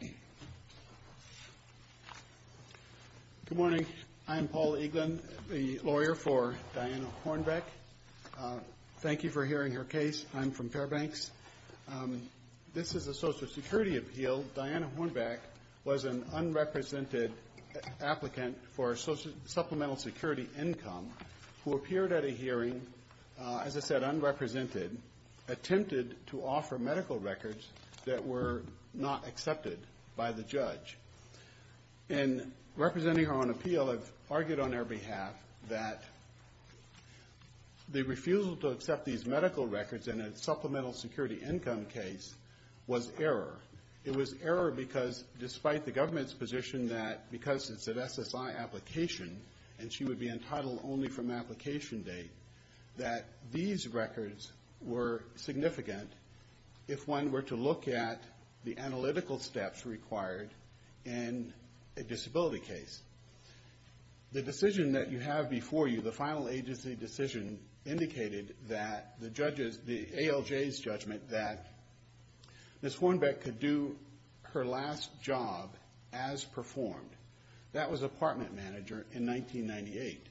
Good morning. I'm Paul Eaglin, the lawyer for Diana Hornbeck. Thank you for hearing her case. I'm from Fairbanks. This is a Social Security appeal. Diana Hornbeck was an unrepresented applicant for Supplemental Security Income who appeared at a hearing, as I said, unrepresented, attempted to offer medical records that were not accepted by the judge. In representing her on appeal, I've argued on her behalf that the refusal to accept these medical records in a Supplemental Security Income case was error. It was error because, despite the government's position that because it's an SSI application and she would be entitled only from application date, that these records were significant if one were to look at the analytical steps required in a disability case. The decision that you have before you, the final agency decision, indicated that the judges, the ALJ's judgment, that Ms. Hornbeck could do her last job as performed. That was apartment manager in 1998.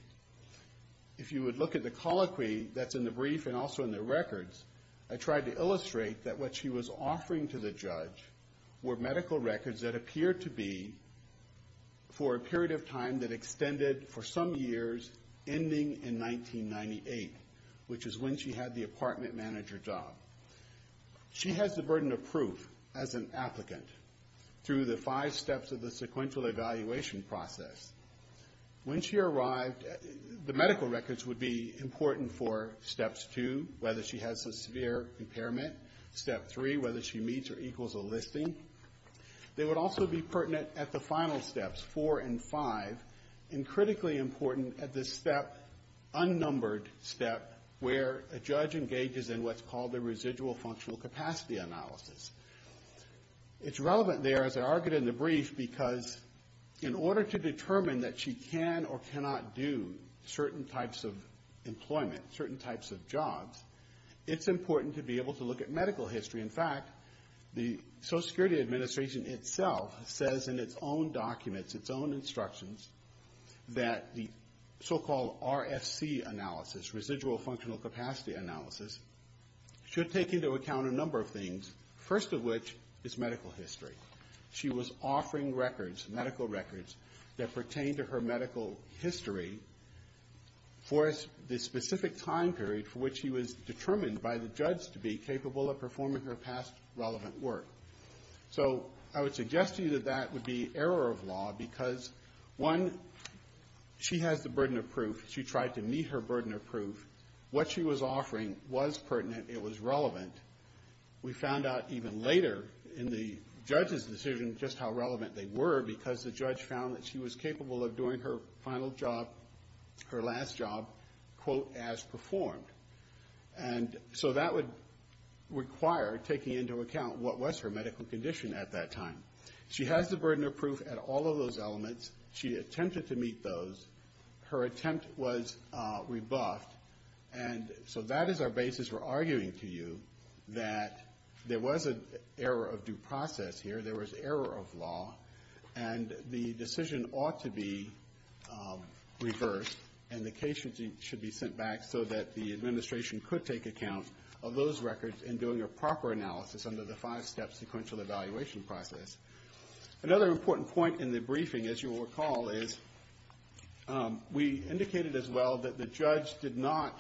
If you would look at the colloquy that's in the brief and also in the records, I tried to illustrate that what she was offering to the judge were medical records that appeared to be for a period of time that extended for some years, ending in 1998, which is when she had the apartment manager job. She has the burden of proof as an applicant through the five steps of the sequential evaluation process. When she arrived, the medical records would be important for steps two, whether she has a severe impairment, step three, whether she meets or equals a listing. They would also be pertinent at the final steps, four and five, and critically important at this step, unnumbered step, where a judge engages in what's called the residual functional capacity analysis. It's relevant there, as I argued in the brief, because in order to determine that she can or cannot do certain types of employment, certain types of jobs, it's important to be able to look at medical history. In fact, the Social Security Administration itself says in its own documents, its own instructions, that the so-called RFC analysis, residual functional capacity analysis, should take into account a number of things, first of which is medical history. She was offering records, medical records, that pertain to her medical history for the specific time period for which she was determined by the judge to be capable of performing her past relevant work. So I would suggest to you that that would be error of law, because one, she has the burden of proof, she tried to meet her burden of proof, what she was offering was pertinent, it was relevant. We found out even later in the judge's decision just how relevant they were, because the judge found that she was capable of doing her final job, her last job, quote, as performed. And so that would require taking into account what was her medical condition at that time. She has the burden of proof at all of those elements, she attempted to meet those, her attempt was rebuffed, and so that is our basis for arguing to you that there was an error of due process here, there was error of law, and the decision ought to be reversed and the case should be sent back so that the administration could take account of those records in doing a proper analysis under the five-step sequential evaluation process. Another important point in the briefing, as you will recall, is we indicated as well that the judge did not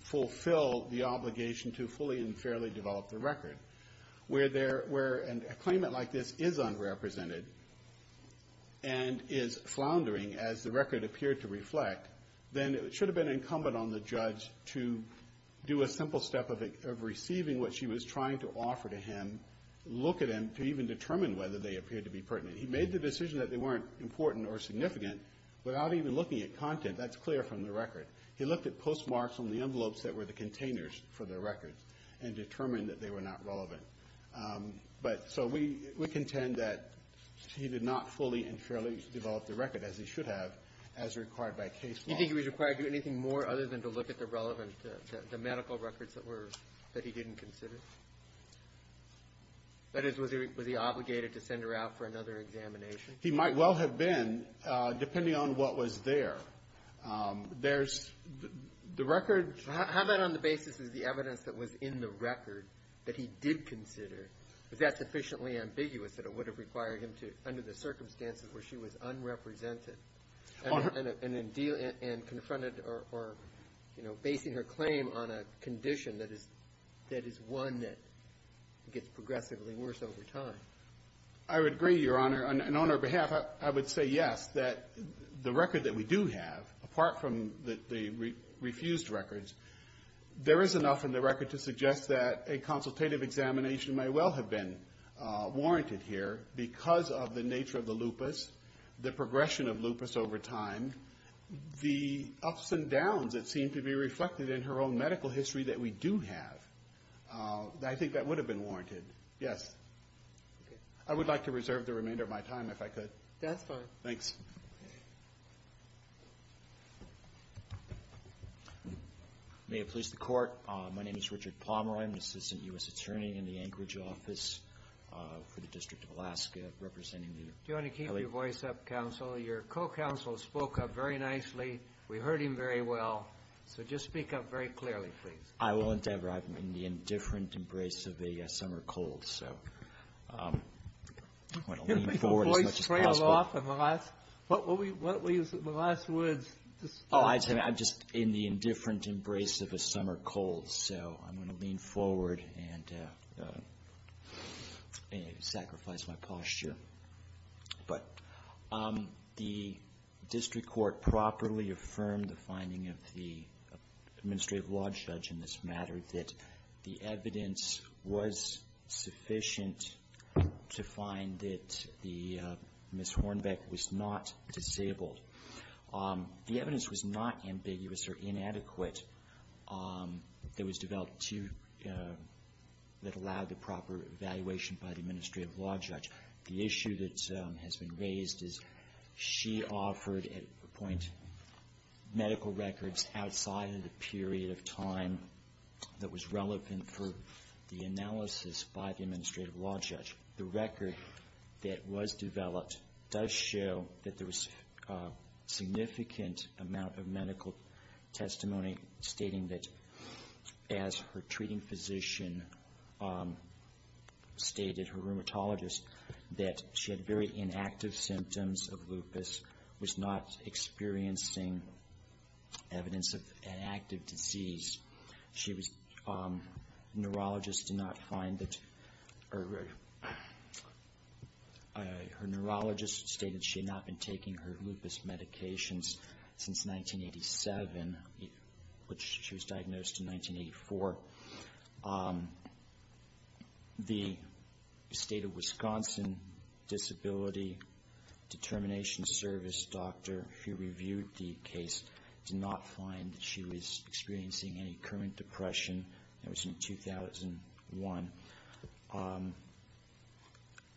fulfill the obligation to fully and fairly develop the record. Where there, where a claimant like this is unrepresented and is floundering as the record appeared to reflect, then it should have been incumbent on the judge to do a simple step of receiving what she was trying to offer to him, look at him to even determine whether they appeared to be pertinent. He made the decision that they weren't important or significant without even looking at content, that's clear from the record. He looked at postmarks on the envelopes that were the containers for the records and determined that they were not relevant. But so we contend that he did not fully and fairly develop the record as he should have as required by case law. Do you think he was required to do anything more other than to look at the relevant, the medical records that were, that he didn't consider? That is, was he obligated to send her out for another examination? He might well have been, depending on what was there. There's the record. How about on the basis of the evidence that was in the record that he did consider? Is that sufficiently ambiguous that it would have required him to, under the circumstances where she was unrepresented and confronted or, you know, basing her claim on a condition that is, that is one that gets progressively worse over time? I would agree, Your Honor. And on her behalf, I would say yes, that the record that we do have, apart from the refused records, there is enough in the record to suggest that a consultative examination may well have been warranted here because of the nature of the lupus, the progression of lupus over time, the ups and downs that seem to be reflected in her own medical history that we do have. I think that would have been warranted. Yes. I would like to reserve the remainder of my time if I could. That's fine. Thanks. May it please the Court, my name is Richard Pomeroy. I'm the Assistant U.S. Attorney in the Anchorage office for the District of Alaska, representing the L.A. Do you want to keep your voice up, counsel? Your co-counsel spoke up very nicely. We heard him very well. So just speak up very clearly, please. I will endeavor. I'm in the indifferent embrace of a summer cold, so I'm going to lean forward as much as possible. Your voice fell off in the last words. Oh, I'm just in the indifferent embrace of a summer cold, so I'm going to lean forward and sacrifice my posture. But the district court properly affirmed the finding of the administrative law judge in this matter, that the evidence was sufficient to find that Ms. Hornbeck was not disabled. The evidence was not ambiguous or inadequate. It was developed that allowed the proper evaluation by the administrative law judge. The issue that has been raised is she offered, at one point, medical records outside of the period of time that was relevant for the analysis by the administrative law judge. The record that was developed does show that there was a significant amount of medical testimony stating that as her treating physician stated, her rheumatologist, that she had very inactive symptoms of lupus, was not experiencing evidence of an active disease. Her neurologist stated she had not been taking her lupus medications since 1987, which she was diagnosed in 1984. The state of Wisconsin Disability Determination Service doctor who reviewed the case did not find that she was experiencing any current depression. That was in 2001.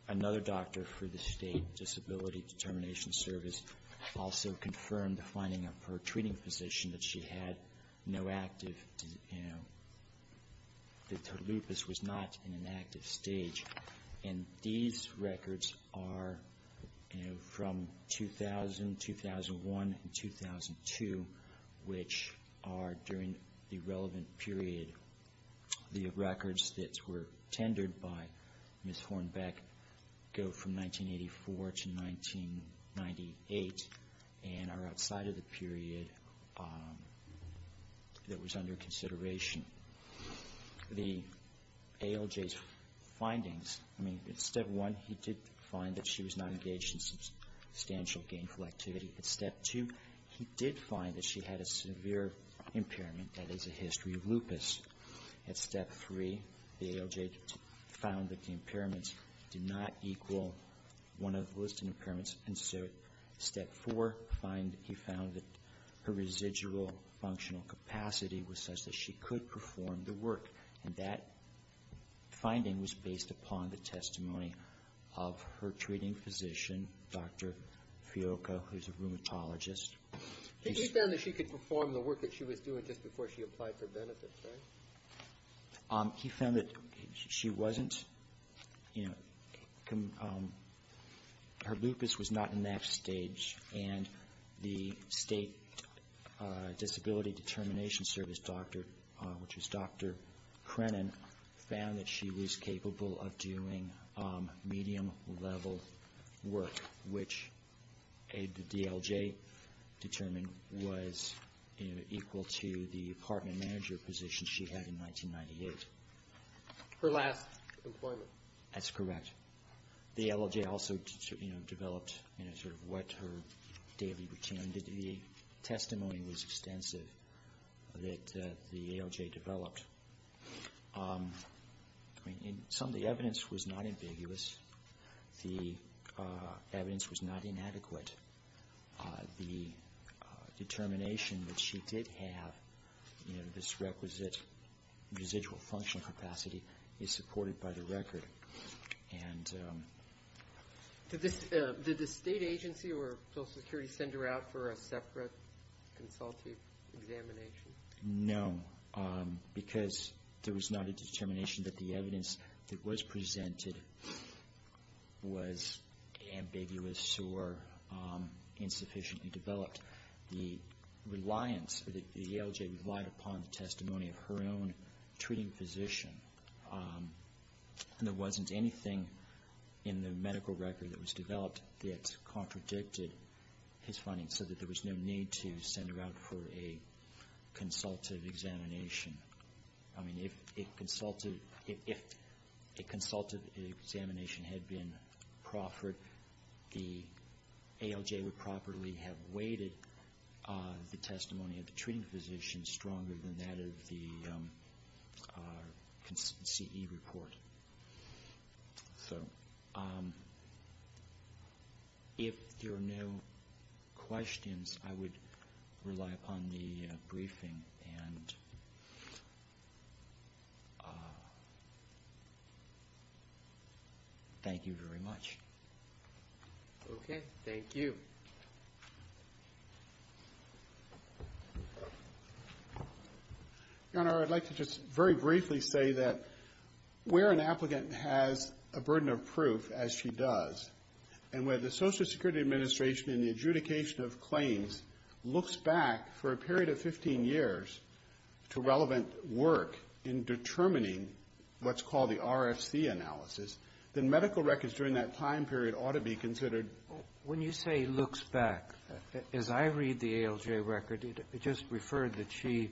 Another doctor for the state Disability Determination Service also confirmed the finding of her treating physician that she had no active, that her lupus was not in an active stage. And these records are from 2000, 2001, and 2002, which are during the relevant period. The records that were tendered by Ms. Hornbeck go from 1984 to 1998 and are outside of the period that was under consideration. The ALJ's findings, I mean, at step one, he did find that she was not engaged in substantial gainful activity. At step two, he did find that she had a severe impairment that is a history of lupus. At step three, the ALJ found that the impairments did not equal one of the listed impairments. And so step four, he found that her residual functional capacity was such that she could perform the work. And that finding was based upon the testimony of her treating physician, Dr. Fiocco, who's a rheumatologist. He found that she could perform the work that she was doing just before she applied for benefits, right? He found that she wasn't, you know, her lupus was not in that stage. And the State Disability Determination Service doctor, which was Dr. Crennan, found that she was capable of doing medium-level work, which the ALJ determined was equal to the apartment manager position she had in 1998. Her last employment. That's correct. The ALJ also developed, you know, sort of what her daily routine. The testimony was extensive that the ALJ developed. Some of the evidence was not ambiguous. The evidence was not inadequate. The determination that she did have, you know, this requisite residual functional capacity is supported by the record. And... Did the State agency or Social Security send her out for a separate consultative examination? No, because there was not a determination that the evidence that was presented was ambiguous or insufficiently developed. The reliance, the ALJ relied upon the testimony of her own treating physician. And there wasn't anything in the medical record that was developed that contradicted his findings, so that there was no need to send her out for a consultative examination. I mean, if a consultative examination had been proffered, the ALJ would properly have weighted the testimony of the treating physician stronger than that of the CE report. So... If there are no questions, I would rely upon the briefing. And... Thank you very much. Okay. Thank you. Your Honor, I would like to just very briefly say that where an applicant has a burden of proof, as she does, and where the Social Security Administration in the adjudication of claims looks back for a period of 15 years to relevant work in determining what's called the RFC analysis, then medical records during that time period ought to be considered. When you say looks back, as I read the ALJ record, it just referred that she,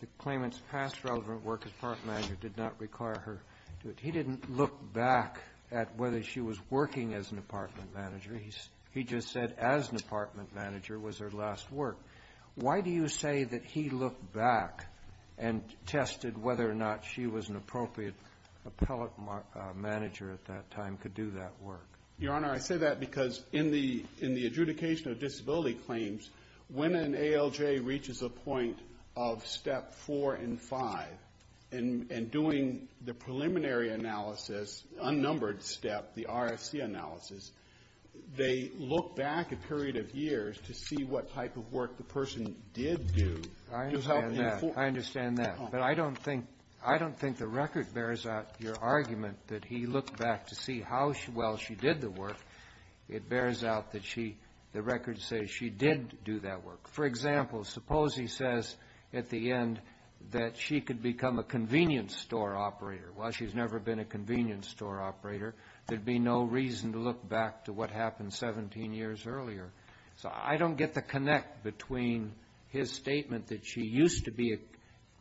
the claimant's past relevant work as apartment manager did not require her to do it. He didn't look back at whether she was working as an apartment manager. He just said as an apartment manager was her last work. Why do you say that he looked back and tested whether or not she was an appropriate appellate manager at that time to do that work? Your Honor, I say that because in the adjudication of disability claims, when an ALJ reaches a point of Step 4 and 5, and doing the preliminary analysis, unnumbered step, the RFC analysis, they look back a period of years to see what type of work the person did do to help inform... I understand that. I understand that. But I don't think the record bears out your how well she did the work. It bears out that she, the record says she did do that work. For example, suppose he says at the end that she could become a convenience store operator. While she's never been a convenience store operator, there'd be no reason to look back to what happened 17 years earlier. So I don't get the connect between his statement that she used to be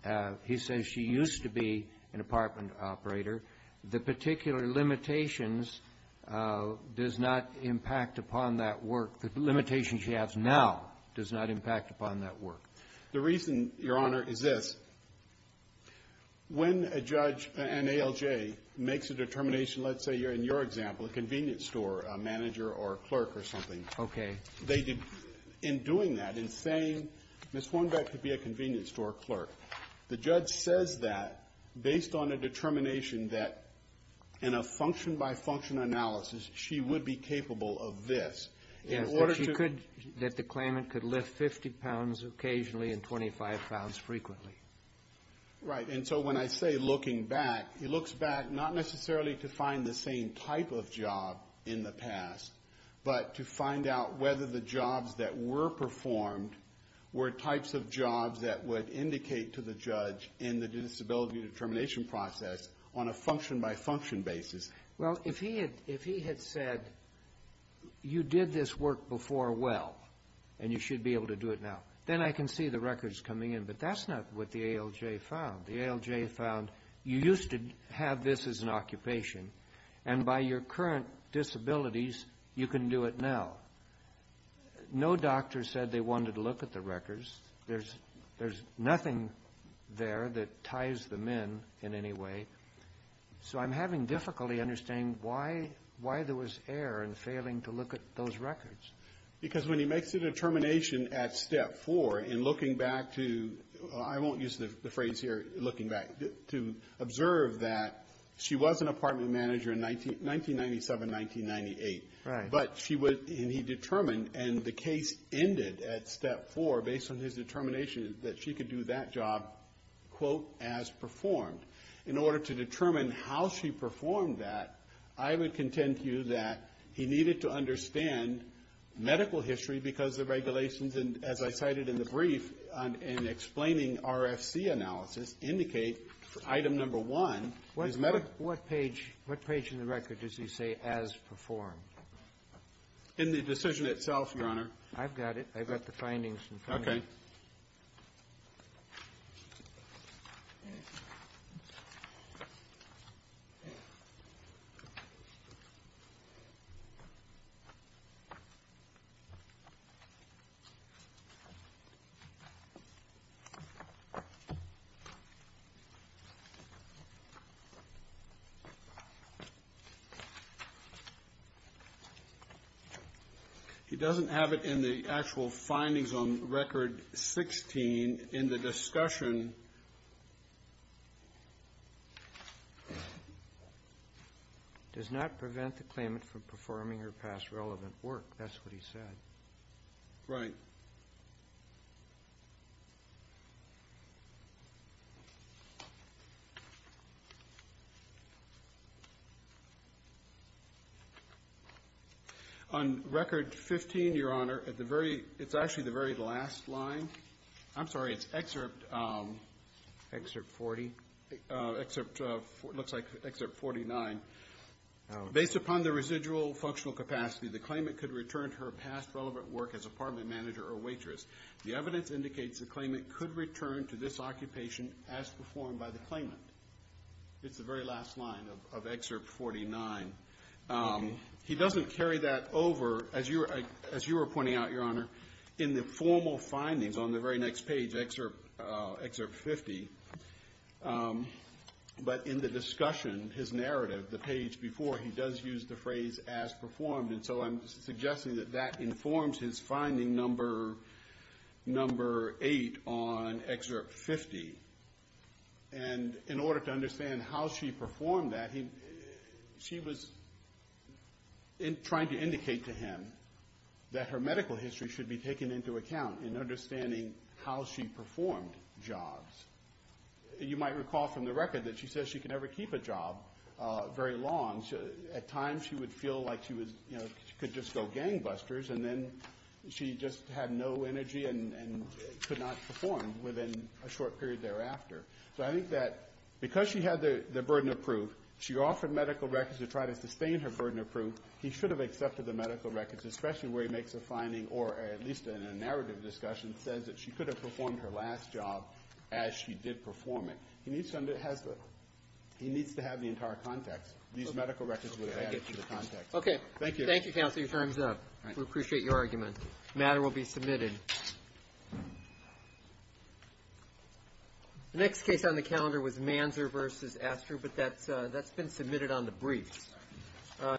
a, he says she used to be an apartment operator, the particular limitations does not impact upon that work. The limitations she has now does not impact upon that work. The reason, Your Honor, is this. When a judge, an ALJ, makes a determination, let's say in your example, a convenience store manager or clerk or something. Okay. They did, in doing that, in saying, Ms. Hornbeck could be a convenience store clerk. The judge says that based on a determination that in a function-by-function analysis, she would be capable of this. Yes. In order to... That she could, that the claimant could lift 50 pounds occasionally and 25 pounds frequently. Right. And so when I say looking back, he looks back not necessarily to find the same type of job in the past, but to find out whether the jobs that were performed were types of jobs that would indicate to the judge in the disability determination process on a function-by-function basis. Well, if he had said, you did this work before well, and you should be able to do it now, then I can see the records coming in. But that's not what the ALJ found. The ALJ found you used to have this as an occupation, and by your current disabilities, you can do it now. No doctor said they wanted to look at the records. There's nothing there that ties them in in any way. So I'm having difficulty understanding why there was error in failing to look at those records. Because when he makes a determination at Step 4 in looking back to, I won't use the phrase here, looking back, to observe that she was an apartment manager in 1997, 1998. Right. But she was, and he determined, and the case ended at Step 4 based on his determination that she could do that job, quote, as performed. In order to determine how she performed that, I would contend to you that he needed to understand medical history because the regulations, and as I cited in the brief in explaining RFC analysis, indicate item number one is medical. What page in the record does he say as performed? In the decision itself, Your Honor. I've got it. I've got the findings. Okay. He doesn't have it in the actual findings on record 16 in the discussion. Does not prevent the claimant from performing her past relevant work. That's what he said. Right. On record 15, Your Honor, at the very, it's actually the very last line. I'm sorry, it's excerpt. Excerpt 40. Looks like excerpt 49. Based upon the residual functional capacity, the claimant could return her past relevant work as apartment manager or waitress. The evidence indicates the claimant could return to this occupation as performed by the claimant. It's the very last line of excerpt 49. He doesn't carry that over, as you were pointing out, Your Honor, in the formal findings on the very next page, excerpt 50. But in the discussion, his narrative, the page before, he does use the phrase as performed. And so I'm suggesting that that informs his finding number 8 on excerpt 50. And in order to understand how she performed that, she was trying to indicate to him that her medical history should be taken into account in understanding how she performed jobs. You might recall from the record that she says she could never keep a job very long. At times she would feel like she was, you know, she could just go gangbusters and then she just had no energy and could not perform within a short period thereafter. So I think that because she had the burden of proof, she offered medical records to try to sustain her burden of proof. He should have accepted the medical records, especially where he makes a finding or at least in a narrative discussion says that she could have performed her last job as she did perform it. He needs to have the entire context. These medical records would have added to the context. Thank you. Thank you, Counselor. Your time is up. We appreciate your argument. The matter will be submitted. The next case on the calendar was Manzer v. Astor, but that's been submitted on the briefs.